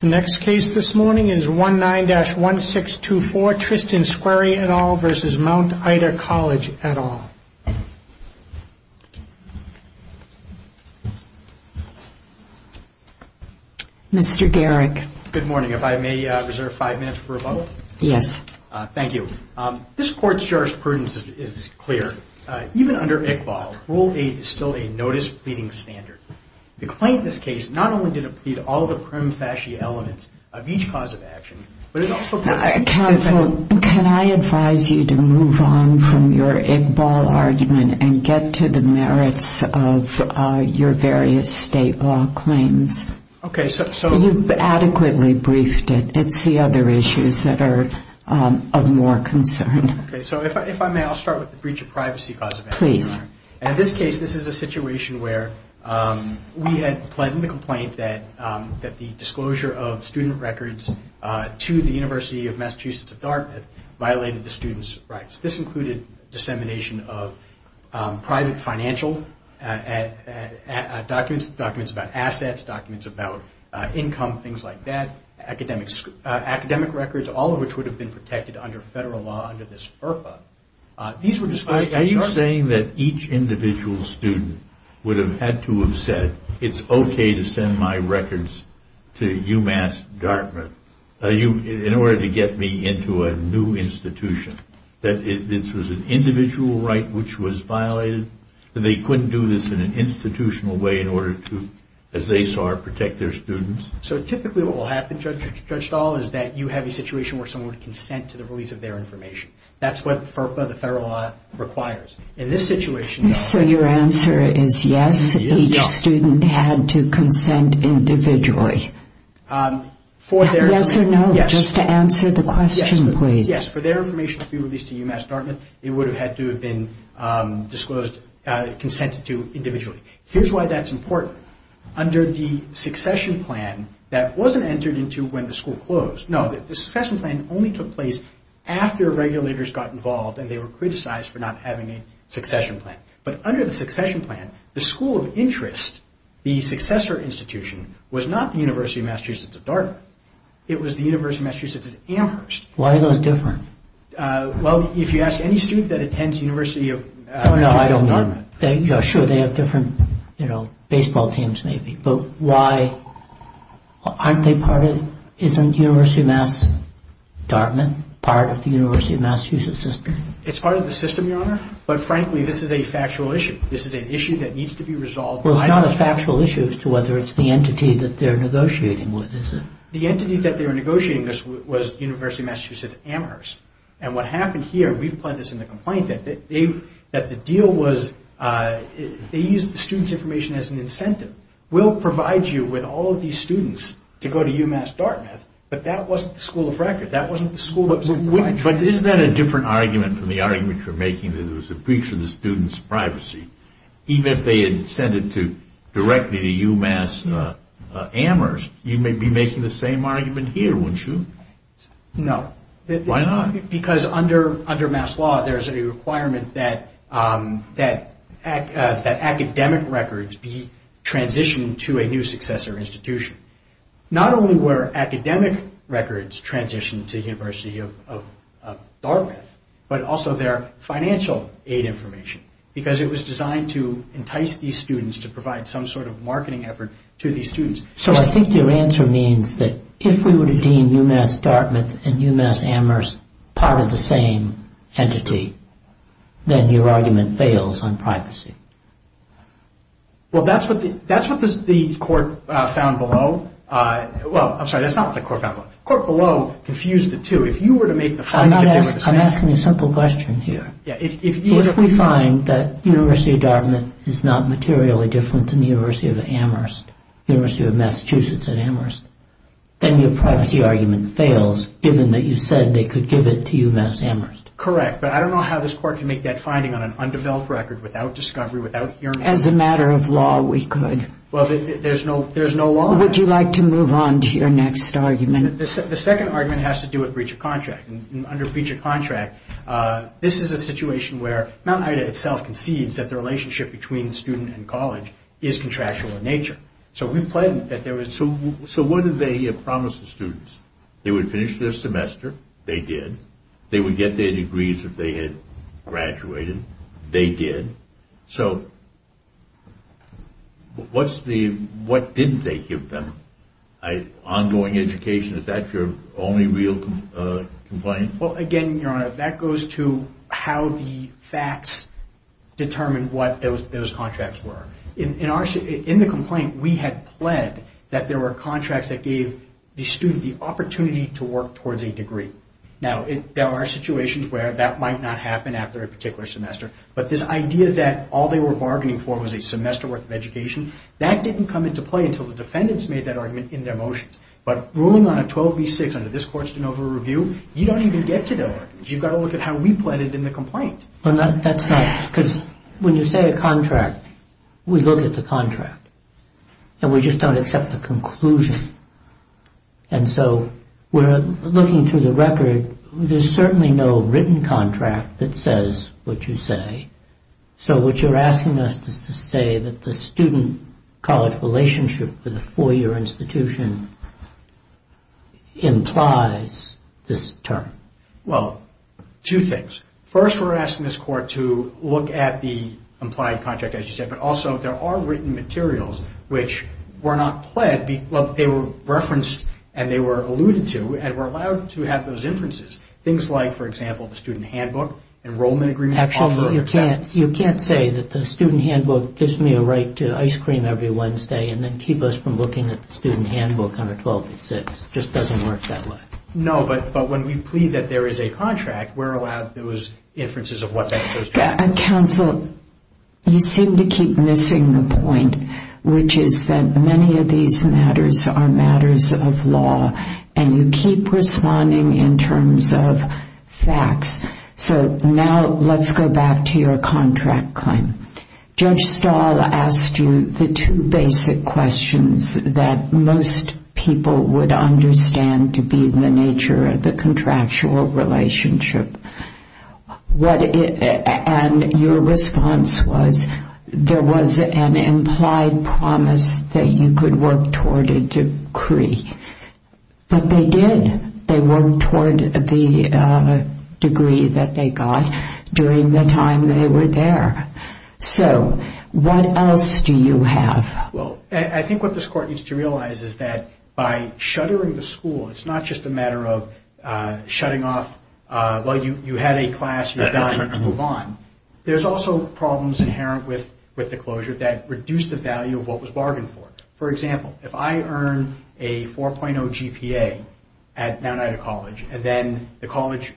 The next case this morning is 19-1624 Tristan Squeri et al. v. Mount Ida College et al. Mr. Garrick. Good morning. If I may reserve five minutes for a vote? Yes. Thank you. This court's jurisprudence is clear. Even under Iqbal, Rule 8 is still a notice pleading standard. The claim in this case not only did it plead all the prim, fashy elements of each cause of action, but it also... Counsel, can I advise you to move on from your Iqbal argument and get to the merits of your various state law claims? Okay, so... You've adequately briefed it. It's the other issues that are of more concern. Okay, so if I may, I'll start with the breach of privacy cause of action. Please. In this case, this is a situation where we had pled in the complaint that the disclosure of student records to the University of Massachusetts of Dartmouth violated the student's rights. This included dissemination of private financial documents, documents about assets, documents about income, things like that, academic records, all of which would have been protected under federal law under this IRFA. Are you saying that each individual student would have had to have said, it's okay to send my records to UMass Dartmouth in order to get me into a new institution? That this was an individual right which was violated? They couldn't do this in an institutional way in order to, as they saw it, protect their students? So typically what will happen, Judge Dahl, is that you have a situation where someone would consent to the release of their information. That's what FERPA, the federal law, requires. In this situation... So your answer is yes, each student had to consent individually? Yes or no, just to answer the question, please. Yes, for their information to be released to UMass Dartmouth, it would have had to have been disclosed, consented to individually. Here's why that's important. Under the succession plan, that wasn't entered into when the school closed. No, the succession plan only took place after regulators got involved and they were criticized for not having a succession plan. But under the succession plan, the school of interest, the successor institution, was not the University of Massachusetts at Dartmouth. It was the University of Massachusetts at Amherst. Why are those different? Well, if you ask any student that attends University of Massachusetts at Dartmouth... No, no, I don't know. Sure, they have different baseball teams, maybe. But why aren't they part of... Isn't University of Massachusetts at Dartmouth part of the University of Massachusetts system? It's part of the system, Your Honor. But frankly, this is a factual issue. This is an issue that needs to be resolved. Well, it's not a factual issue as to whether it's the entity that they're negotiating with, is it? The entity that they were negotiating with was University of Massachusetts at Amherst. And what happened here, we've put this in the complaint, that the deal was they used the student's information as an incentive. We'll provide you with all of these students to go to UMass Dartmouth, but that wasn't the school of record. That wasn't the school that was... But isn't that a different argument from the argument you're making that it was a breach of the student's privacy? Even if they had sent it directly to UMass Amherst, you may be making the same argument here, wouldn't you? No. Why not? Because under mass law, there's a requirement that academic records be transitioned to a new successor institution. Not only were academic records transitioned to University of Dartmouth, but also their financial aid information, because it was designed to entice these students to provide some sort of marketing effort to these students. So I think your answer means that if we were to deem UMass Dartmouth and UMass Amherst part of the same entity, then your argument fails on privacy. Well, that's what the court found below. Well, I'm sorry, that's not what the court found below. The court below confused the two. If you were to make the finding that they were the same... I'm asking a simple question here. If we find that University of Dartmouth is not materially different than the University of Amherst, the University of Massachusetts at Amherst, then your privacy argument fails, given that you said they could give it to UMass Amherst. Correct, but I don't know how this court can make that finding on an undeveloped record without discovery, without hearing it. As a matter of law, we could. Well, there's no law. Would you like to move on to your next argument? The second argument has to do with breach of contract. Under breach of contract, this is a situation where Mount Ida itself concedes that the relationship between student and college is contractual in nature. So, we pledged that there was... So, what did they promise the students? They would finish their semester. They did. They would get their degrees if they had graduated. They did. So, what didn't they give them? Ongoing education, is that your only real complaint? Well, again, Your Honor, that goes to how the facts determine what those contracts were. In the complaint, we had pled that there were contracts that gave the student the opportunity to work towards a degree. Now, there are situations where that might not happen after a particular semester, but this idea that all they were bargaining for was a semester worth of education, that didn't come into play until the defendants made that argument in their motions. But ruling on a 12B-6 under this court's de novo review, you don't even get to know it. You've got to look at how we pled it in the complaint. Well, that's not... Because when you say a contract, we look at the contract, and we just don't accept the conclusion. And so, we're looking through the record. There's certainly no written contract that says what you say. So, what you're asking us is to say that the student-college relationship with a four-year institution implies this term. Well, two things. First, we're asking this court to look at the implied contract, as you said, but also, there are written materials which were not pled, but they were referenced and they were alluded to and were allowed to have those inferences. Things like, for example, the student handbook, enrollment agreements... Actually, you can't say that the student handbook gives me a right to ice cream every Wednesday and then keep us from looking at the student handbook under 1286. It just doesn't work that way. No, but when we plead that there is a contract, we're allowed those inferences of what's actually true. Counsel, you seem to keep missing the point, which is that many of these matters are matters of law, and you keep responding in terms of facts. So, now, let's go back to your contract claim. Judge Stahl asked you the two basic questions that most people would understand to be the nature of the contractual relationship, and your response was, there was an implied promise that you could work toward a decree. But they did. They worked toward the decree that they got during the time they were there. So, what else do you have? Well, I think what this Court needs to realize is that by shuttering the school, it's not just a matter of shutting off... Well, you had a class, you're done, you can move on. There's also problems inherent with the closure that reduce the value of what was bargained for. For example, if I earn a 4.0 GPA at Mount Ida College, and then the college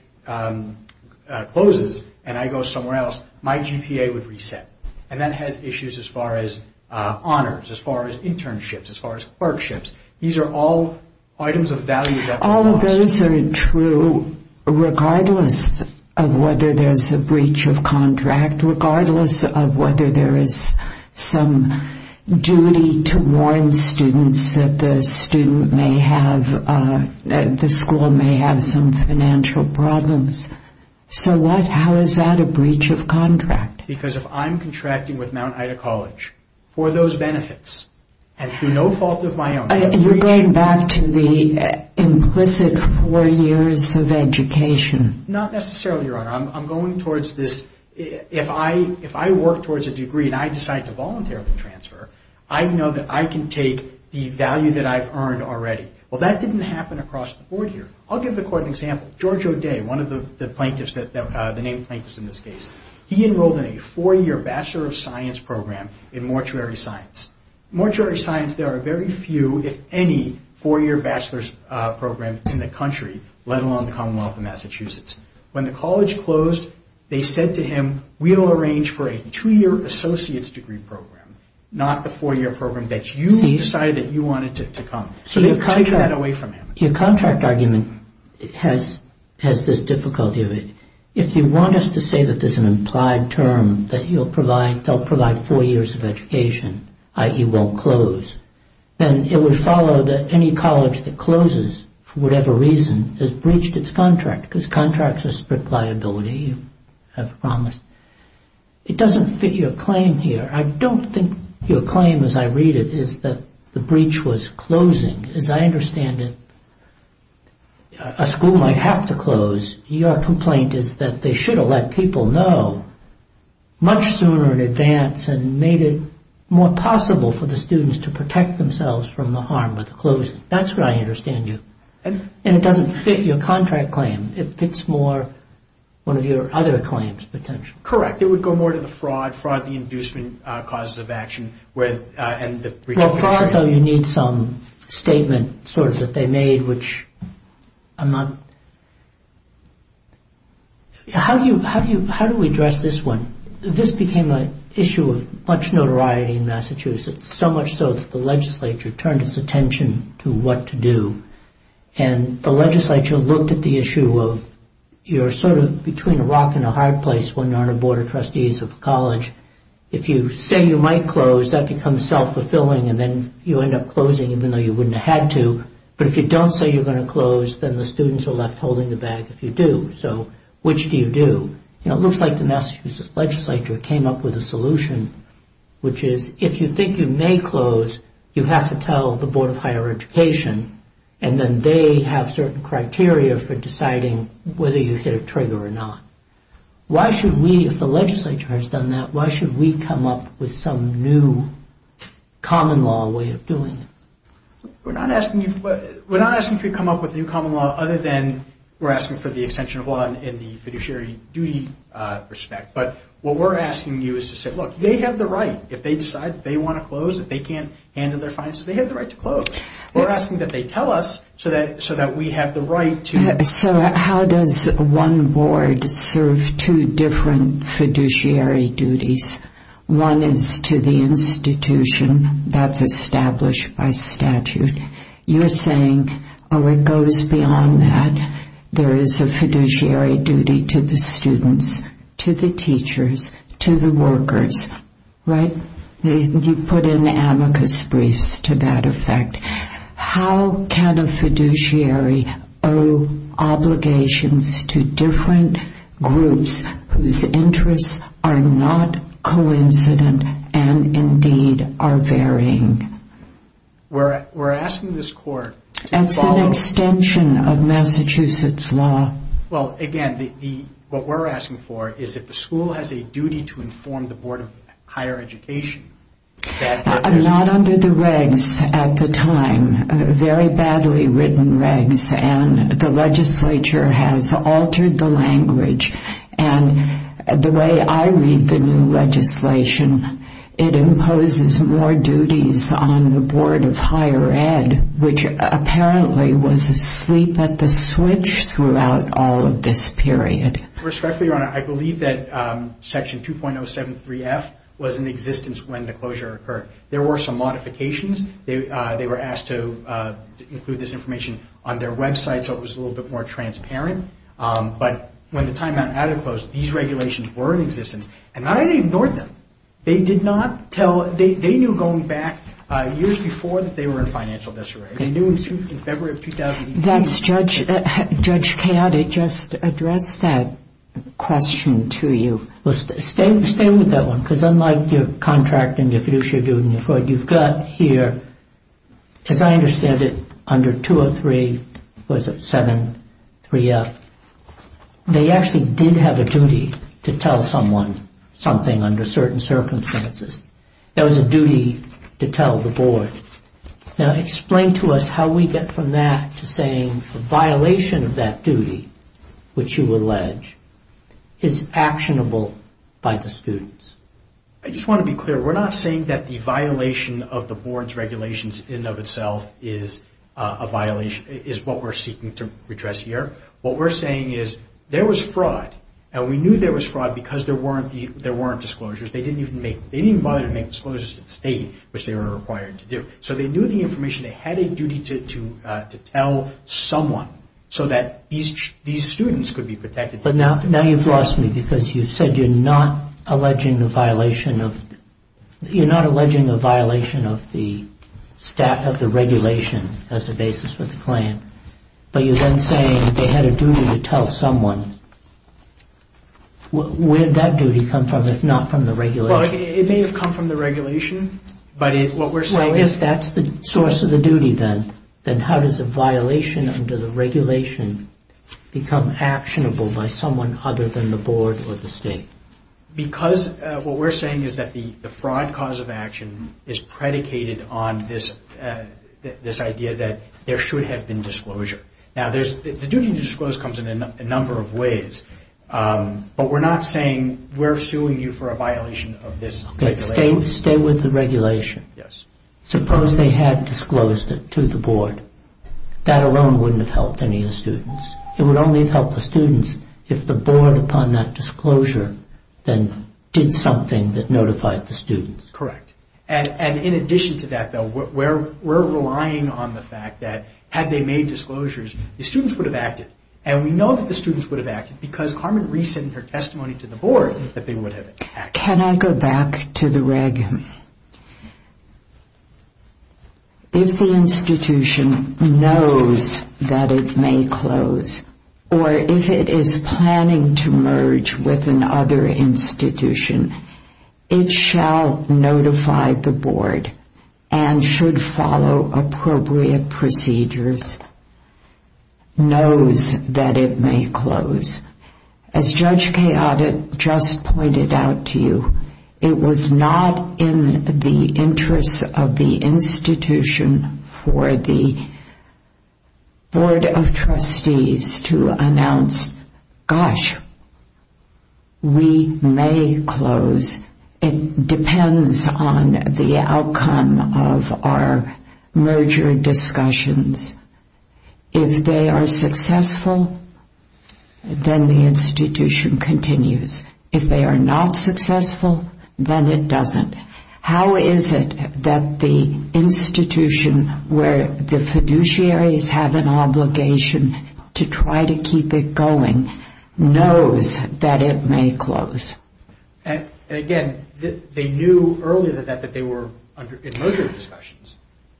closes and I go somewhere else, my GPA would reset. And that has issues as far as honors, as far as internships, as far as clerkships. These are all items of value that... All of those are true, regardless of whether there's a breach of contract, regardless of whether there is some duty to warn students that the school may have some financial problems. So, how is that a breach of contract? Because if I'm contracting with Mount Ida College for those benefits, and for no fault of my own... You're going back to the implicit four years of education. Not necessarily, Your Honor. I'm going towards this... If I work towards a degree and I decide to voluntarily transfer, I know that I can take the value that I've earned already. Well, that didn't happen across the board here. I'll give the court an example. George O'Day, one of the plaintiffs, the named plaintiffs in this case, he enrolled in a four-year Bachelor of Science program in Mortuary Science. In Mortuary Science, there are very few, if any, four-year bachelor's programs in the country, let alone the Commonwealth of Massachusetts. When the college closed, they said to him, we'll arrange for a two-year associate's degree program, not the four-year program that you decided that you wanted to come. So they've taken that away from him. Your contract argument has this difficulty of it. If you want us to say that there's an implied term that you'll provide, they'll provide four years of education, i.e. won't close, then it would follow that any college that closes for whatever reason has breached its contract because contracts are strict liability, you have promised. It doesn't fit your claim here. I don't think your claim, as I read it, is that the breach was closing. As I understand it, a school might have to close. Your complaint is that they should have let people know much sooner in advance and made it more possible for the students to protect themselves from the harm of the closing. That's what I understand you. And it doesn't fit your contract claim. It fits more one of your other claims, potentially. Correct. It would go more to the fraud, fraud the inducement causes of action and the breach of contract. For fraud, though, you need some statement sort of that they made, which I'm not... How do we address this one? This became an issue of much notoriety in Massachusetts, so much so that the legislature turned its attention to what to do. And the legislature looked at the issue of you're sort of between a rock and a hard place when you're on a board of trustees of a college. If you say you might close, that becomes self-fulfilling, and then you end up closing even though you wouldn't have had to. But if you don't say you're going to close, then the students are left holding the bag if you do. So which do you do? It looks like the Massachusetts legislature came up with a solution, which is if you think you may close, you have to tell the Board of Higher Education, and then they have certain criteria for deciding whether you hit a trigger or not. Why should we, if the legislature has done that, why should we come up with some new common law way of doing it? We're not asking for you to come up with a new common law other than we're asking for the extension of law in the fiduciary duty respect. But what we're asking you is to say, look, they have the right. If they decide they want to close, if they can't handle their finances, they have the right to close. We're asking that they tell us so that we have the right to. So how does one board serve two different fiduciary duties? One is to the institution that's established by statute. You're saying, oh, it goes beyond that. There is a fiduciary duty to the students, to the teachers, to the workers, right? You put in amicus briefs to that effect. How can a fiduciary owe obligations to different groups whose interests are not coincident and indeed are varying? We're asking this court to follow. It's an extension of Massachusetts law. Well, again, what we're asking for is that the school has a duty to inform the Board of Higher Education. Not under the regs at the time, very badly written regs, and the legislature has altered the language. And the way I read the new legislation, it imposes more duties on the Board of Higher Ed, which apparently was asleep at the switch throughout all of this period. Respectfully, Your Honor, I believe that Section 2.073F was in existence when the closure occurred. There were some modifications. They were asked to include this information on their website so it was a little bit more transparent. But when the timeout had it closed, these regulations were in existence. And I had ignored them. They did not tell us. They knew going back years before that they were in financial disarray. They knew in February of 2018. Judge Coyote just addressed that question to you. Stay with that one, because unlike your contracting, your fiduciary duty, you've got here, as I understand it, under Section 2.073F, they actually did have a duty to tell someone something under certain circumstances. That was a duty to tell the Board. Now, explain to us how we get from that to saying the violation of that duty, which you allege, is actionable by the students. I just want to be clear. We're not saying that the violation of the Board's regulations in and of itself is what we're seeking to address here. What we're saying is there was fraud, and we knew there was fraud because there weren't disclosures. They didn't even bother to make disclosures to the State, which they were required to do. So they knew the information. They had a duty to tell someone so that these students could be protected. But now you've lost me because you said you're not alleging the violation of the regulation as a basis for the claim, but you're then saying they had a duty to tell someone. Where did that duty come from, if not from the regulation? Well, it may have come from the regulation, but what we're saying is Well, if that's the source of the duty then, then how does a violation under the regulation become actionable by someone other than the Board or the State? Because what we're saying is that the fraud cause of action is predicated on this idea that there should have been disclosure. Now, the duty to disclose comes in a number of ways, but we're not saying we're suing you for a violation of this regulation. Okay, stay with the regulation. Suppose they had disclosed it to the Board. That alone wouldn't have helped any of the students. It would only have helped the students if the Board, upon that disclosure, then did something that notified the students. Correct. And in addition to that, though, we're relying on the fact that had they made disclosures, the students would have acted. And we know that the students would have acted because Carmen re-sent her testimony to the Board that they would have acted. Can I go back to the reg? If the institution knows that it may close, or if it is planning to merge with another institution, it shall notify the Board and should follow appropriate procedures, knows that it may close. As Judge Chaotet just pointed out to you, it was not in the interest of the institution for the Board of Trustees to announce, gosh, we may close. It depends on the outcome of our merger discussions. If they are successful, then the institution continues. If they are not successful, then it doesn't. How is it that the institution where the fiduciaries have an obligation to try to keep it going knows that it may close? Again, they knew earlier that they were in merger discussions.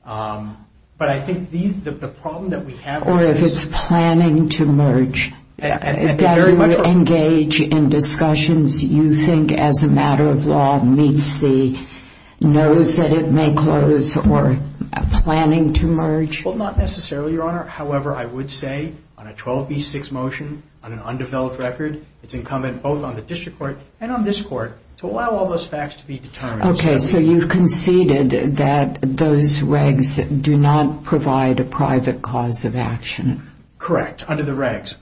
But I think the problem that we have is... Or if it's planning to merge. Very much so. Engage in discussions you think, as a matter of law, meets the knows that it may close or planning to merge. Not necessarily, Your Honor. However, I would say on a 12B6 motion on an undeveloped record, it's incumbent both on the district court and on this court to allow all those facts to be determined. Okay, so you've conceded that those regs do not provide a private cause of action. Correct, under the regs.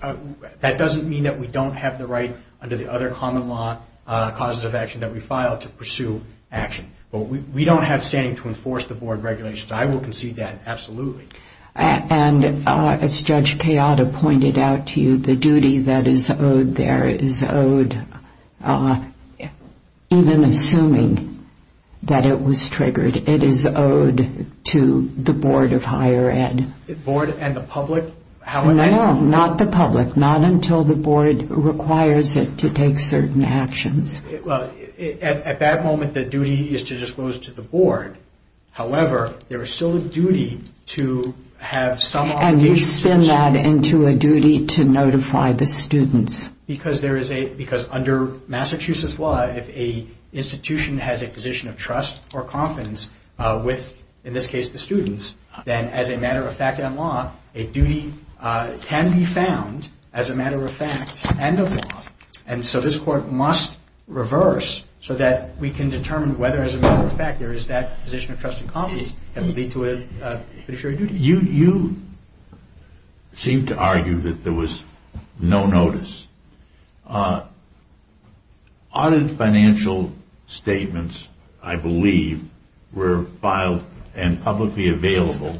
That doesn't mean that we don't have the right under the other common law causes of action that we file to pursue action. But we don't have standing to enforce the Board regulations. I will concede that, absolutely. And as Judge Kayada pointed out to you, the duty that is owed there is owed, even assuming that it was triggered, it is owed to the Board of Higher Ed. The Board and the public? No, not the public. Not until the Board requires it to take certain actions. Well, at that moment, the duty is to disclose to the Board. However, there is still a duty to have some obligation. And you spin that into a duty to notify the students. Because under Massachusetts law, if an institution has a position of trust or confidence with, in this case, the students, then as a matter of fact and law, a duty can be found as a matter of fact and of law. And so this court must reverse so that we can determine whether, as a matter of fact, there is that position of trust and confidence that would lead to a fiduciary duty. You seem to argue that there was no notice. Audit financial statements, I believe, were filed and publicly available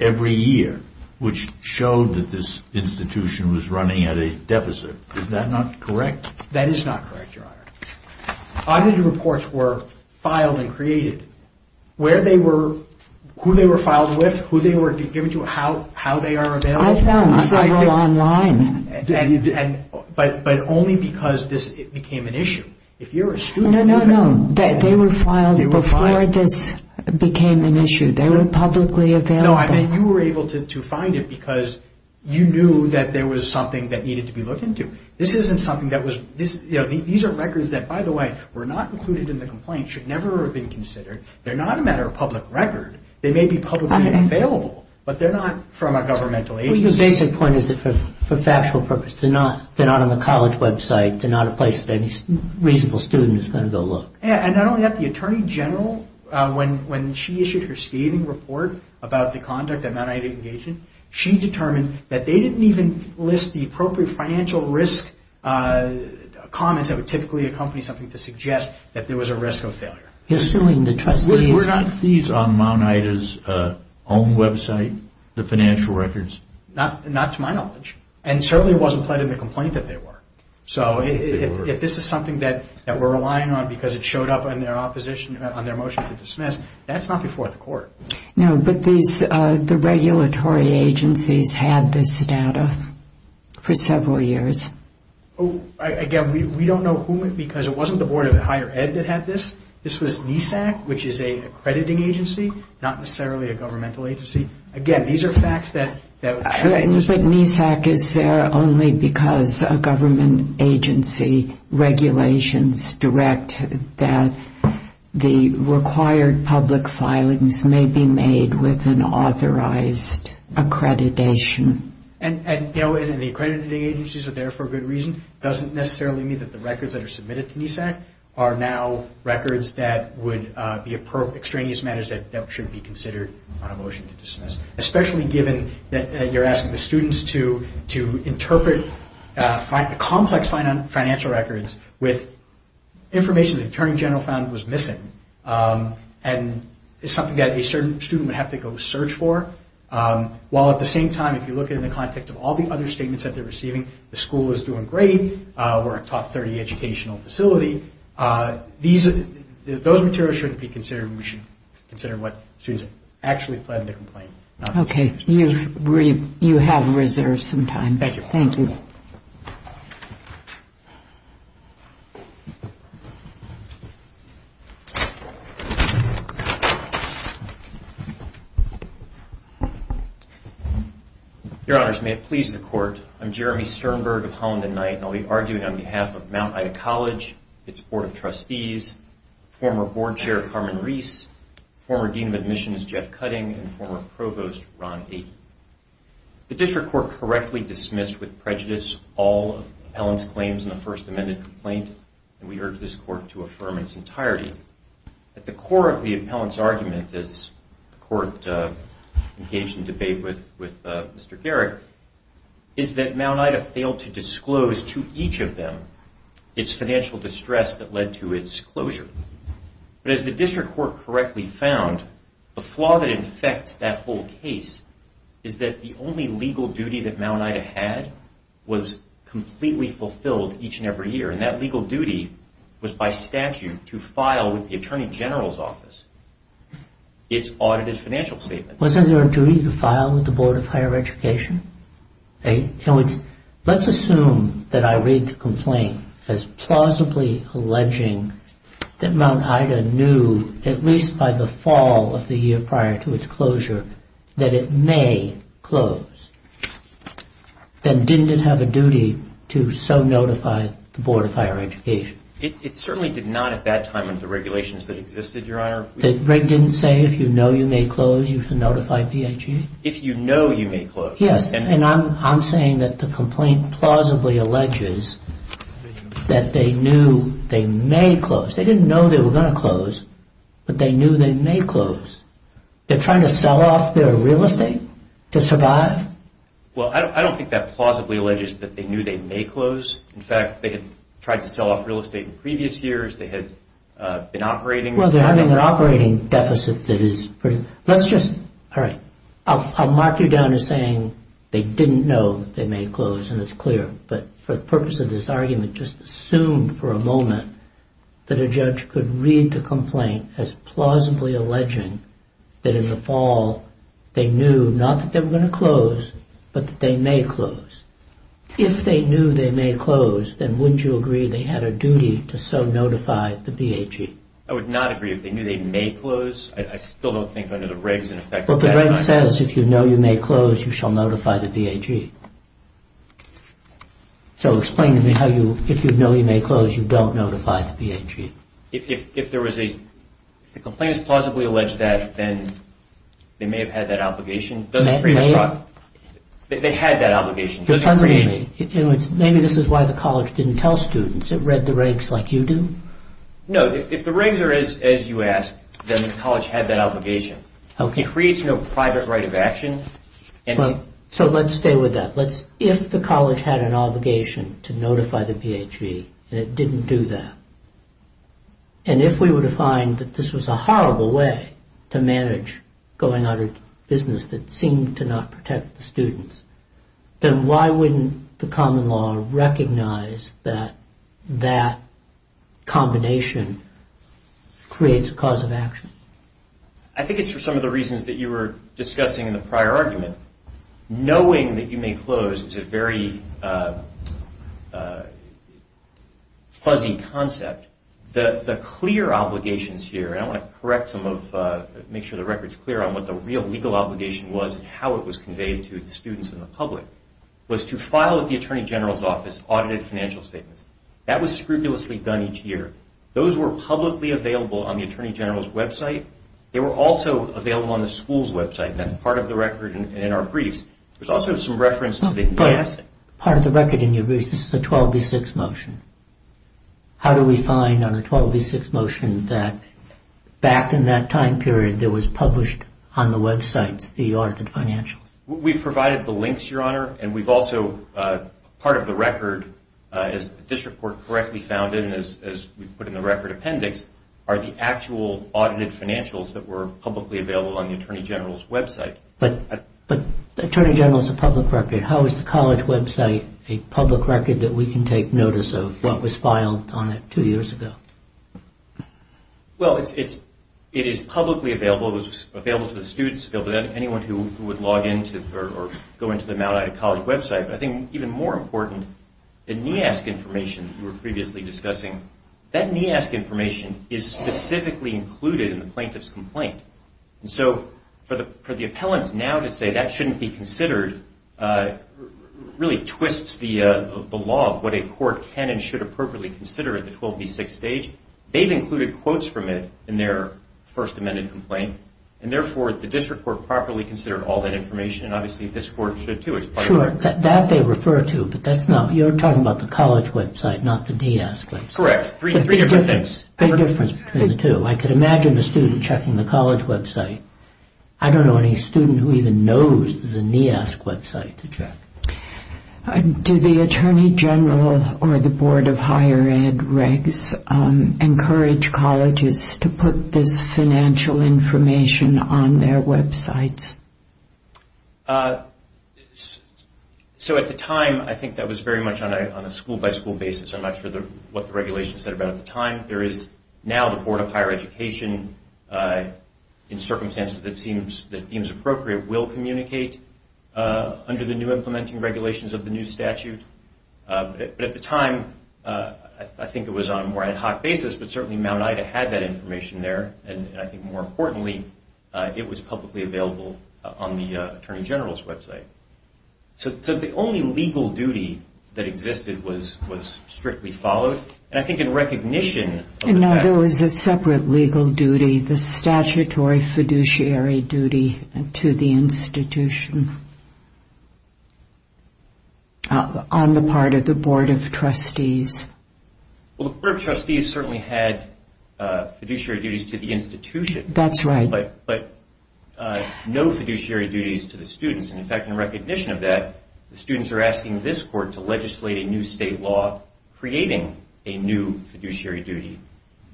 every year, which showed that this institution was running at a deficit. Is that not correct? That is not correct, Your Honor. Audit reports were filed and created. Where they were, who they were filed with, who they were given to, how they are available. I found several online. But only because this became an issue. No, no, no. They were filed before this became an issue. They were publicly available. No, I mean, you were able to find it because you knew that there was something that needed to be looked into. This isn't something that was, you know, these are records that, by the way, were not included in the complaint, should never have been considered. They're not a matter of public record. They may be publicly available, but they're not from a governmental agency. Well, your basic point is that for factual purpose, they're not on the college website. They're not a place that any reasonable student is going to go look. And not only that, the Attorney General, when she issued her scathing report about the conduct of minority engagement, she determined that they didn't even list the appropriate financial risk comments that would typically accompany something to suggest that there was a risk of failure. You're suing the trustees. Were not these on Mount Ida's own website, the financial records? Not to my knowledge. And certainly it wasn't pled in the complaint that they were. So if this is something that we're relying on because it showed up on their motion to dismiss, that's not before the court. No, but the regulatory agencies had this data for several years. Again, we don't know who, because it wasn't the Board of Higher Ed that had this. This was NESAC, which is an accrediting agency, not necessarily a governmental agency. Again, these are facts that... But NESAC is there only because a government agency regulations direct that the required public filings may be made with an authorized accreditation. And the accrediting agencies are there for a good reason. It doesn't necessarily mean that the records that are submitted to NESAC are now records that would be extraneous matters that should be considered on a motion to dismiss, especially given that you're asking the students to interpret complex financial records with information the Attorney General found was missing and is something that a certain student would have to go search for, while at the same time, if you look at it in the context of all the other statements that they're receiving, the school is doing great, we're a top 30 educational facility, those materials shouldn't be considered. We should consider what students actually pled in the complaint. Okay, you have reserved some time. Thank you. Thank you. Your Honors, may it please the Court, I'm Jeremy Sternberg of Holland and Knight, and I'll be arguing on behalf of Mount Ida College, its Board of Trustees, former Board Chair, Carmen Reese, former Dean of Admissions, Jeff Cutting, and former Provost, Ron Aiken. The District Court correctly dismissed with prejudice all of the appellant's claims in the First Amendment complaint, and we urge this Court to affirm its entirety. At the core of the appellant's argument, as the Court engaged in debate with Mr. Garrick, is that Mount Ida failed to disclose to each of them its financial distress that led to its closure. But as the District Court correctly found, the flaw that infects that whole case is that the only legal duty that Mount Ida had was completely fulfilled each and every year, and that legal duty was by statute to file with the Attorney General's Office its audited financial statement. Wasn't there a duty to file with the Board of Higher Education? Let's assume that I read the complaint as plausibly alleging that Mount Ida knew, at least by the fall of the year prior to its closure, that it may close. Then didn't it have a duty to so notify the Board of Higher Education? It certainly did not at that time under the regulations that existed, Your Honor. That Greg didn't say, if you know you may close, you should notify PHA? If you know you may close. Yes, and I'm saying that the complaint plausibly alleges that they knew they may close. They didn't know they were going to close, but they knew they may close. They're trying to sell off their real estate to survive? Well, I don't think that plausibly alleges that they knew they may close. In fact, they had tried to sell off real estate in previous years. They had been operating. Well, they're having an operating deficit that is pretty... Let's just... All right. I'll mark you down as saying they didn't know they may close, and it's clear. But for the purpose of this argument, just assume for a moment that a judge could read the complaint as plausibly alleging that in the fall, they knew not that they were going to close, but that they may close. If they knew they may close, then wouldn't you agree they had a duty to so notify the BAG? I would not agree. If they knew they may close, I still don't think under the regs in effect... Well, the reg says, if you know you may close, you shall notify the BAG. So explain to me how you... If you know you may close, you don't notify the BAG. If there was a... If the complaint is plausibly alleged that, then they may have had that obligation. Doesn't create... They had that obligation. Maybe this is why the college didn't tell students. It read the regs like you do. No. If the regs are as you ask, then the college had that obligation. It creates no private right of action. So let's stay with that. If the college had an obligation to notify the BAG, and it didn't do that, and if we were to find that this was a horrible way to manage going out of business that seemed to not protect the students, then why wouldn't the common law recognize that that combination creates a cause of action? I think it's for some of the reasons that you were discussing in the prior argument. Knowing that you may close is a very fuzzy concept. The clear obligations here, and I want to correct some of... make sure the record's clear on what the real legal obligation was and how it was conveyed to the students and the public, was to file at the Attorney General's office audited financial statements. That was scrupulously done each year. Those were publicly available on the Attorney General's website. They were also available on the school's website, and that's part of the record in our briefs. There's also some reference to the... Part of the record in your briefs, this is a 12D6 motion. How do we find on the 12D6 motion that back in that time period there was published on the websites the audited financials? We've provided the links, Your Honor, and we've also, part of the record, as the district court correctly found it, and as we've put in the record appendix, are the actual audited financials that were publicly available on the Attorney General's website. But the Attorney General's a public record. How is the college website a public record that we can take notice of what was filed on it two years ago? Well, it is publicly available. It was available to the students. It was available to anyone who would log into or go into the Mount Ida College website. But I think even more important, the NEASC information you were previously discussing, that NEASC information is specifically included in the plaintiff's complaint. So for the appellants now to say that shouldn't be considered really twists the law of what a court can and should appropriately consider at the 12D6 stage. They've included quotes from it in their first amended complaint, and therefore the district court properly considered all that information, and obviously this court should too. Sure, that they refer to, but you're talking about the college website, not the NEASC website. Correct, three different things. There's a difference between the two. I could imagine a student checking the college website. I don't know any student who even knows the NEASC website to check. Do the Attorney General or the Board of Higher Ed regs encourage colleges to put this financial information on their websites? So at the time, I think that was very much on a school by school basis. I'm not sure what the regulation said about it at the time. There is now the Board of Higher Education in circumstances that seems appropriate will communicate under the new implementing regulations of the new statute. But at the time, I think it was on a more ad hoc basis, but certainly Mount Ida had that information there, and I think more importantly, it was publicly available on the Attorney General's website. So the only legal duty that existed was strictly followed. And I think in recognition... There was a separate legal duty, the statutory fiduciary duty to the institution on the part of the Board of Trustees. Well, the Board of Trustees certainly had fiduciary duties to the institution. That's right. But no fiduciary duties to the students. In fact, in recognition of that, the students are asking this court to legislate a new state law creating a new fiduciary duty.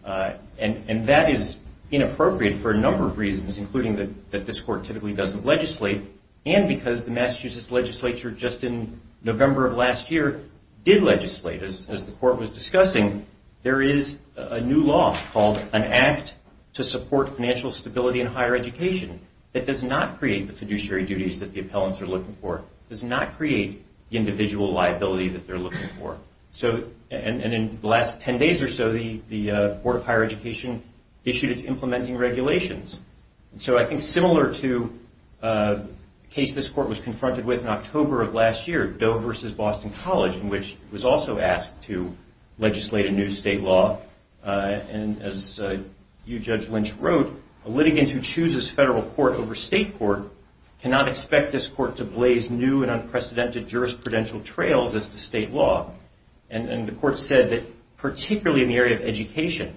And that is inappropriate for a number of reasons, including that this court typically doesn't legislate. And because the Massachusetts legislature just in November of last year did legislate, as the court was discussing, there is a new law called an Act to Support Financial Stability in Higher Education that does not create the fiduciary duties that the appellants are looking for, does not create the individual liability that they're looking for. And in the last 10 days or so, the Board of Higher Education issued its implementing regulations. So I think similar to a case this court was confronted with in October of last year, Doe versus Boston College, in which it was also asked to legislate a new state law. And as you, Judge Lynch, wrote, a litigant who chooses federal court over state court cannot expect this court to blaze new and unprecedented jurisprudential trails as to state law. And the court said that particularly in the area of education,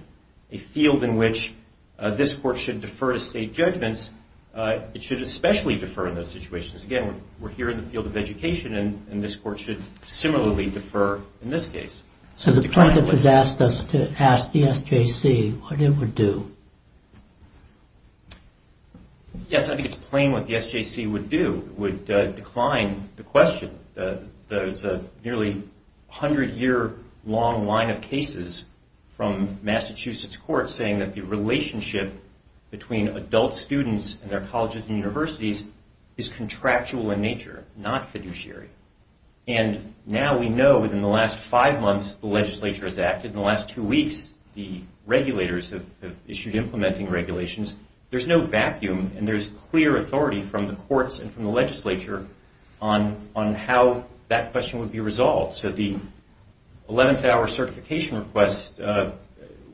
a field in which this court should defer to state judgments, it should especially defer in those situations. Again, we're here in the field of education and this court should similarly defer in this case. So the plaintiff has asked us to ask the SJC what it would do. Yes, I think it's plain what the SJC would do. It would decline the question. There's a nearly 100-year-long line of cases from Massachusetts courts saying that the relationship between adult students and their colleges and universities is contractual in nature, not fiduciary. And now we know within the last five months the legislature has acted. In the last two weeks, the regulators have issued implementing regulations. There's no vacuum and there's clear authority from the courts and from the legislature on how that question would be resolved. So the 11th hour certification request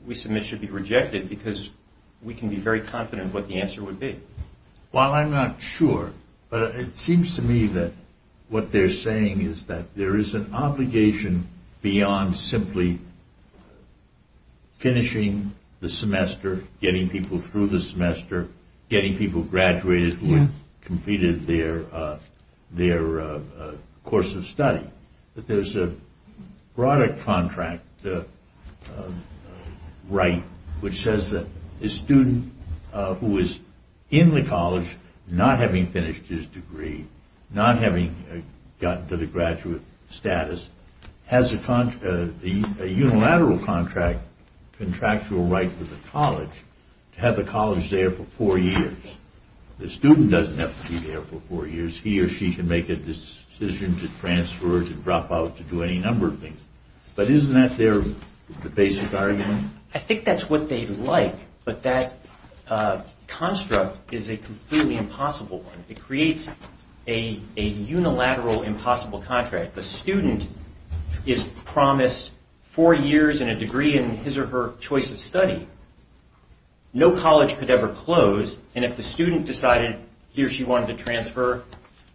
we submit should be rejected because we can be very confident what the answer would be. Well, I'm not sure, but it seems to me that what they're saying is that there is an obligation beyond simply finishing the semester, getting people through the semester, getting people graduated who have completed their course of study, that there's a broader contract right which says that a student who is in the college not having finished his degree, not having gotten to the graduate status, has a unilateral contract, contractual right with the college to have the college there for four years. The student doesn't have to be there for four years. He or she can make a decision to transfer or to drop out to do any number of things. But isn't that their basic argument? I think that's what they like, but that construct is a completely impossible one. It creates a unilateral impossible contract. The student is promised four years and a degree in his or her choice of study. No college could ever close, and if the student decided he or she wanted to transfer,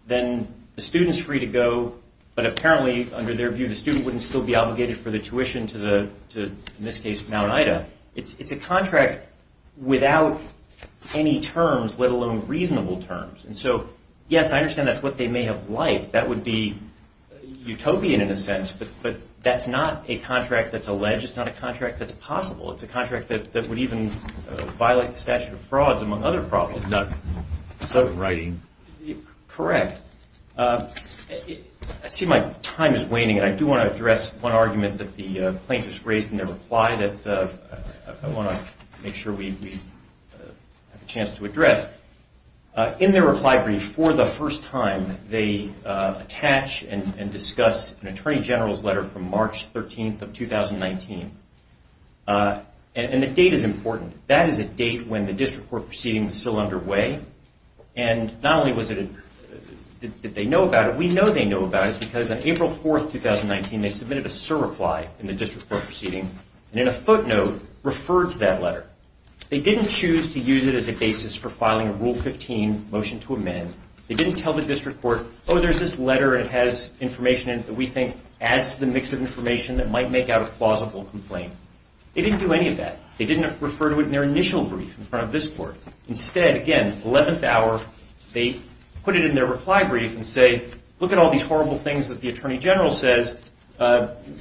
then the student's free to go, but apparently, under their view, the student wouldn't still be obligated for the tuition to, in this case, Mount Ida. It's a contract without any terms, let alone reasonable terms. Yes, I understand that's what they may have liked. That would be utopian in a sense, but that's not a contract that's alleged. It's not a contract that's possible. It's a contract that would even violate the statute of frauds, among other problems. Not so in writing. Correct. I see my time is waning, and I do want to address one argument that the plaintiffs raised in their reply that I want to make sure we have a chance to address. In their reply brief, for the first time, they attach and discuss an attorney general's letter from March 13th of 2019. The date is important. That is a date when the district court proceeding was still underway. Not only did they know about it, we know they know about it because on April 4th, 2019, they submitted a surreply in the district court proceeding, and in a footnote, referred to that letter. They didn't choose to use it as a basis for filing a Rule 15 motion to amend. They didn't tell the district court, oh, there's this letter, and it has information in it that we think adds to the mix of information that might make out a plausible complaint. They didn't do any of that. They didn't refer to it in their initial brief in front of this court. Instead, again, 11th hour, they put it in their reply brief and say, look at all these horrible things that the attorney general says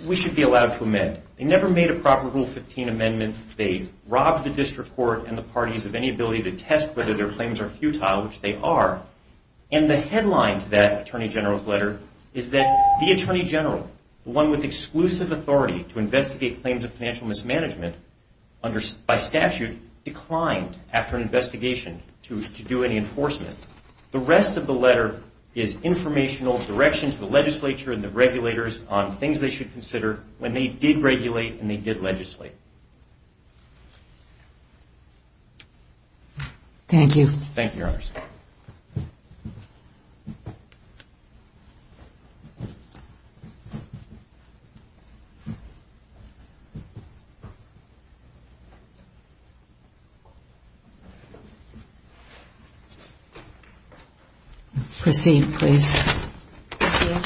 we should be allowed to amend. They never made a proper Rule 15 amendment. They robbed the district court and the parties of any ability to test whether their claims are futile, which they are. And the headline to that attorney general's letter is that the attorney general, the one with exclusive authority to investigate claims of financial mismanagement by statute, declined, after investigation, to do any enforcement. The rest of the letter is informational direction to the legislature and the regulators on things they should consider when they did regulate and they did legislate. Thank you. Thank you, Your Honors. Thank you. Proceed, please. Thank you.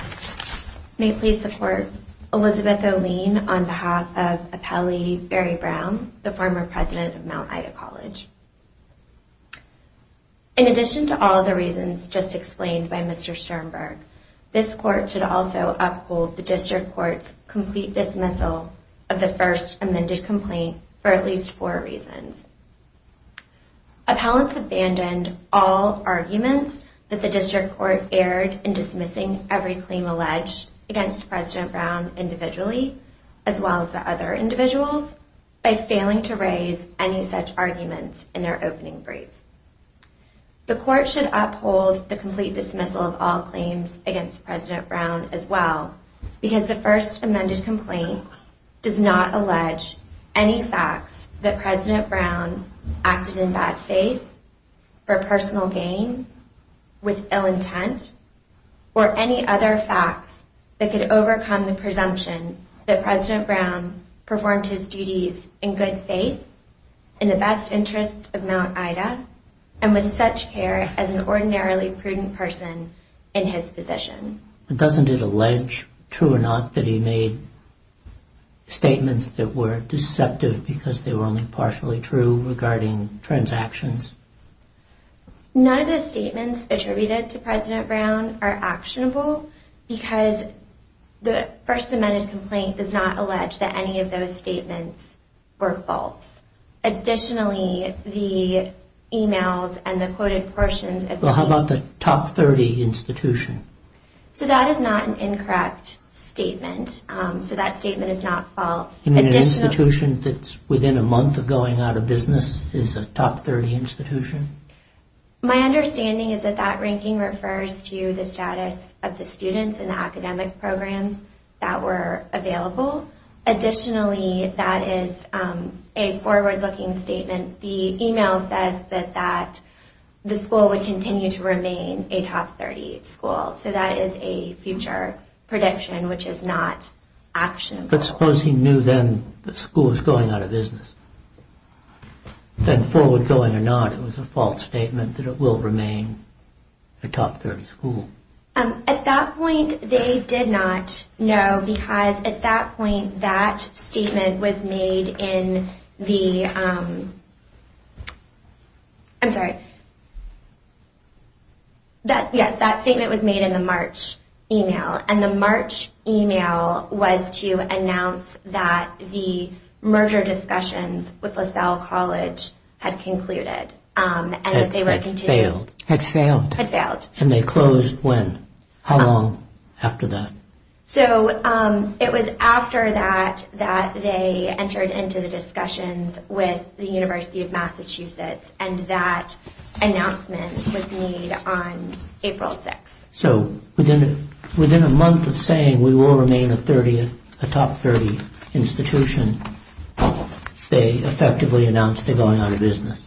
May it please the Court, Elizabeth O'Lean, on behalf of Apelli Berry-Brown, the former president of Mount Ida College. In addition to all the reasons just explained by Mr. Sternberg, this Court should also uphold the district court's complete dismissal of the first amended complaint for at least four reasons. Appellants abandoned all arguments that the district court erred in dismissing every claim alleged against President Brown individually, as well as the other individuals, by failing to raise any such arguments in their opening brief. The Court should uphold the complete dismissal of all claims against President Brown as well, because the first amended complaint does not allege any facts that President Brown acted in bad faith, for personal gain, with ill intent, or any other facts that could overcome the presumption that President Brown performed his duties in good faith, in the best interests of Mount Ida, and with such care as an ordinarily prudent person in his position. Doesn't it allege, true or not, that he made statements that were deceptive because they were only partially true regarding transactions? None of the statements attributed to President Brown are actionable because the first amended complaint does not allege that any of those statements were false. Additionally, the emails and the quoted portions... Well, how about the top 30 institution? So that is not an incorrect statement. So that statement is not false. An institution that's within a month of going out of business is a top 30 institution? My understanding is that that ranking refers to the status of the students and the academic programs that were available. Additionally, that is a forward-looking statement. The email says that the school would continue to remain a top 30 school. So that is a future prediction which is not actionable. But suppose he knew then the school was going out of business. Then forward-going or not, it was a false statement that it will remain a top 30 school. At that point, they did not know because at that point, that statement was made in the... I'm sorry. Yes, that statement was made in the March email. And the March email was to announce that the merger discussions with LaSalle College had concluded. Had failed. Had failed. And they closed when? How long after that? So it was after that that they entered into the discussions with the University of Massachusetts and that announcement was made on April 6th. So within a month of saying we will remain a top 30 institution, they effectively announced they're going out of business.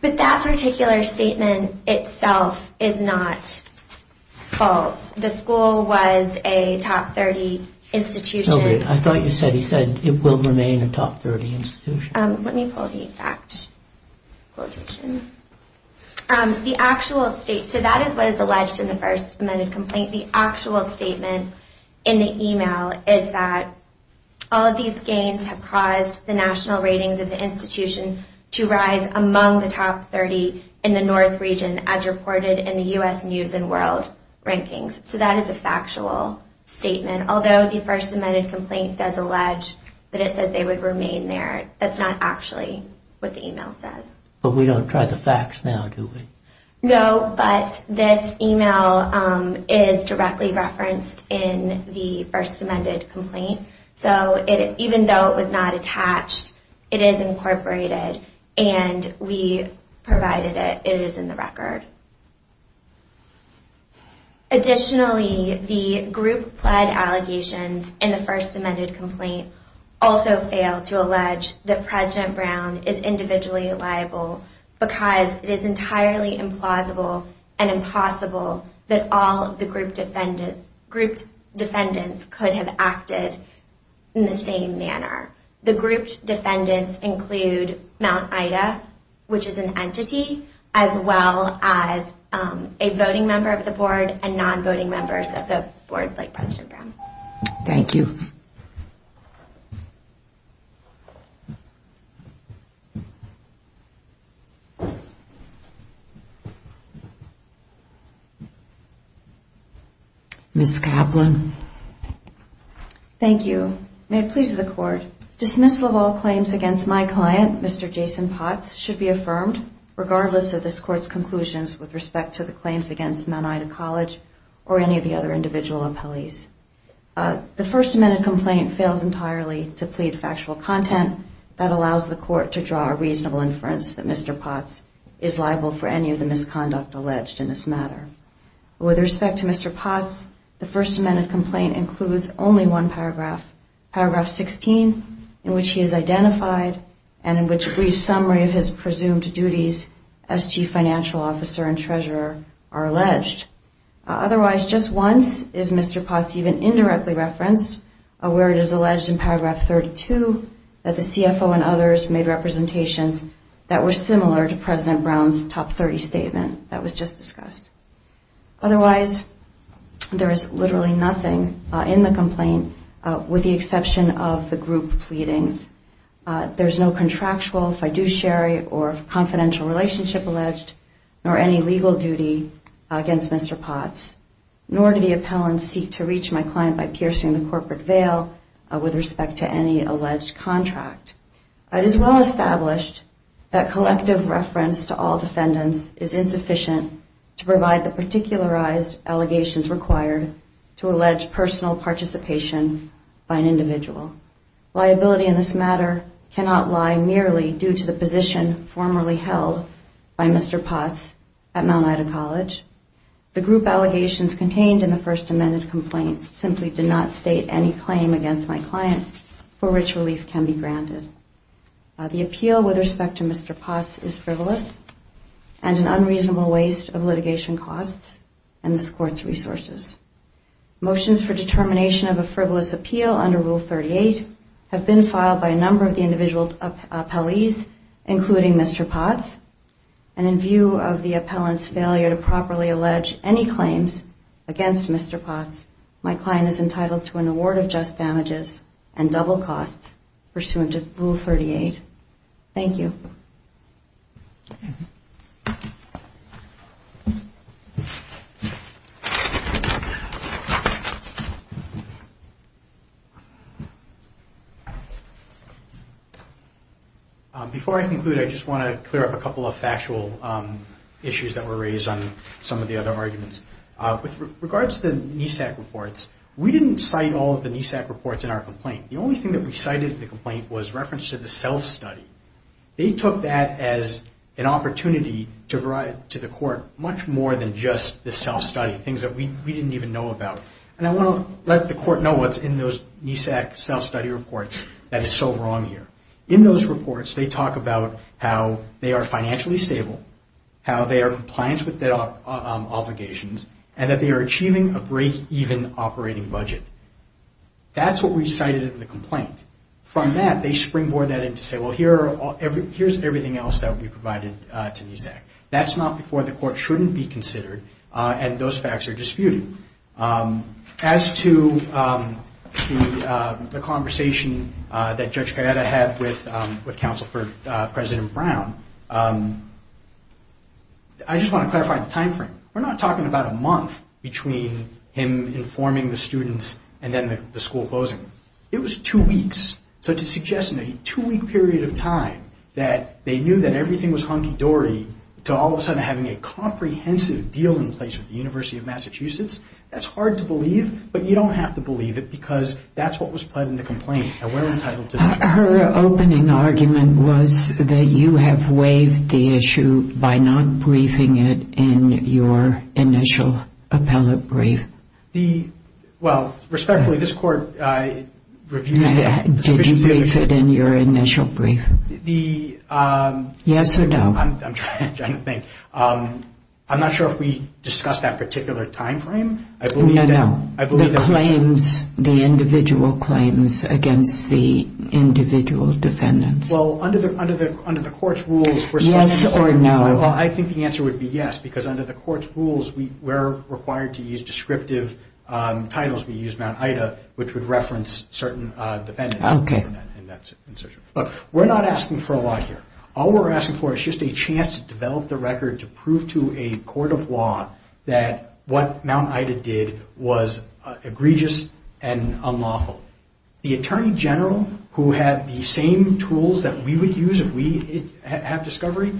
But that particular statement itself is not false. The school was a top 30 institution. I thought you said it will remain a top 30 institution. Let me pull the fact quotation. The actual state... So that is what is alleged in the first amended complaint. The actual statement in the email is that all of these gains have caused the national ratings of the institution to rise among the top 30 in the North region as reported in the U.S. News and World Rankings. So that is a factual statement. Although the first amended complaint does allege that it says they would remain there, that's not actually what the email says. But we don't try the facts now, do we? No, but this email is directly referenced in the first amended complaint. So even though it was not attached, it is incorporated and we provided it. It is in the record. Additionally, the group pled allegations in the first amended complaint also fail to allege that President Brown is individually liable because it is entirely implausible and impossible that all of the group defendants could have acted in the same manner. The group defendants include Mount Ida, which is an entity, as well as a voting member of the Board and non-voting members of the Board like President Brown. Thank you. Ms. Kaplan. Thank you. May it please the Court, dismissal of all claims against my client, Mr. Jason Potts, should be affirmed regardless of this Court's conclusions with respect to the claims against Mount Ida College or any of the other individual appellees. The first amended complaint fails entirely to plead factual content that allows the Court to draw a reasonable inference that Mr. Potts is liable for any of the misconduct alleged in this matter. With respect to Mr. Potts, the first amended complaint includes only one paragraph, paragraph 16, in which he is identified and in which a brief summary of his presumed duties as Chief Financial Officer and Treasurer are alleged. Otherwise, just once is Mr. Potts even indirectly referenced, where it is alleged in paragraph 32 that the CFO and others made representations that were similar to President Brown's top 30 statement that was just discussed. Otherwise, there is literally nothing in the complaint with the exception of the group pleadings. There is no contractual fiduciary or confidential relationship alleged, nor any legal duty against Mr. Potts, nor do the appellants seek to reach my client by piercing the corporate veil with respect to any alleged contract. It is well established that collective reference to all defendants is insufficient to provide the particularized allegations required to allege personal participation by an individual. Liability in this matter cannot lie merely due to the position formerly held by Mr. Potts at Mount Ida College. The group allegations contained in the first amended complaint simply did not state any claim against my client for which relief can be granted. The appeal with respect to Mr. Potts is frivolous and an unreasonable waste of litigation costs and this Court's resources. Motions for determination of a frivolous appeal under Rule 38 have been filed by a number of the individual appellees, including Mr. Potts, and in view of the appellant's failure to properly allege any claims against Mr. Potts, my client is entitled to an award of just damages and double costs pursuant to Rule 38. Thank you. Before I conclude, I just want to clear up a couple of factual issues that were raised on some of the other arguments. With regards to the NESAC reports, we didn't cite all of the NESAC reports in our complaint. The only thing that we cited in the complaint was reference to the self-study. They took that as an opportunity to provide to the Court much more than just the self-study, things that we didn't even know about. And I want to let the Court know what's in those NESAC self-study reports that is so wrong here. In those reports, they talk about how they are financially stable, how they are compliant with their obligations, and that they are achieving a break-even operating budget. That's what we cited in the complaint. From that, they springboard that in to say, well, here's everything else that we provided to NESAC. That's not before the Court shouldn't be considered, and those facts are disputed. As to the conversation that Judge Gallardo had with Counsel for President Brown, I just want to clarify the time frame. We're not talking about a month between him informing the students and then the school closing. It was two weeks. So to suggest in a two-week period of time that they knew that everything was hunky-dory to all of a sudden having a comprehensive deal in place with the University of Massachusetts, that's hard to believe, but you don't have to believe it because that's what was pled in the complaint and we're entitled to that. Her opening argument was that you have waived the issue by not briefing it in your initial appellate brief. The, well, respectfully, this Court reviewed the sufficiency of the brief. Did you brief it in your initial brief? The... Yes or no? I'm trying to think. I'm not sure if we discussed that particular time frame. No, no. The claims, the individual claims against the individual defendants. Well, under the Court's rules... Yes or no? I think the answer would be yes because under the Court's rules we're required to use descriptive titles. We use Mount Ida which would reference certain defendants. Okay. We're not asking for a lot here. All we're asking for is just a chance to develop the record to prove to a court of law that what Mount Ida did was egregious and unlawful. The attorney general who had the same tools that we would use if we had discovery,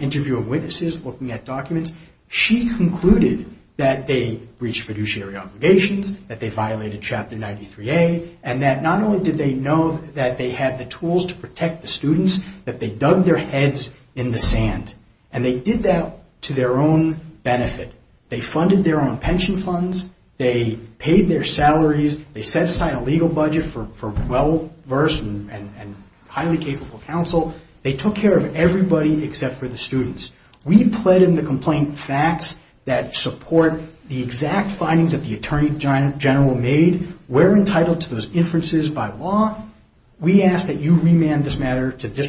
interview of witnesses, looking at documents, she concluded that they breached fiduciary obligations, that they violated Chapter 93A, and that not only did they know that they had the tools to protect the students, that they dug their heads in the sand. And they did that to their own benefit. They funded their own pension funds. They paid their salaries. They set aside a legal budget for well-versed and highly capable counsel. They took care of everybody except for the students. We plead in the complaint facts that support the exact findings that the attorney general made. We're entitled to those inferences by law. We ask that you remand this matter to the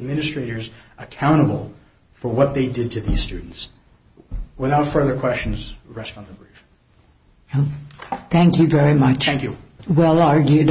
administrators accountable for what they did to these students. Without further questions, we rest on the brief. Thank you very much. Thank you. Well argued on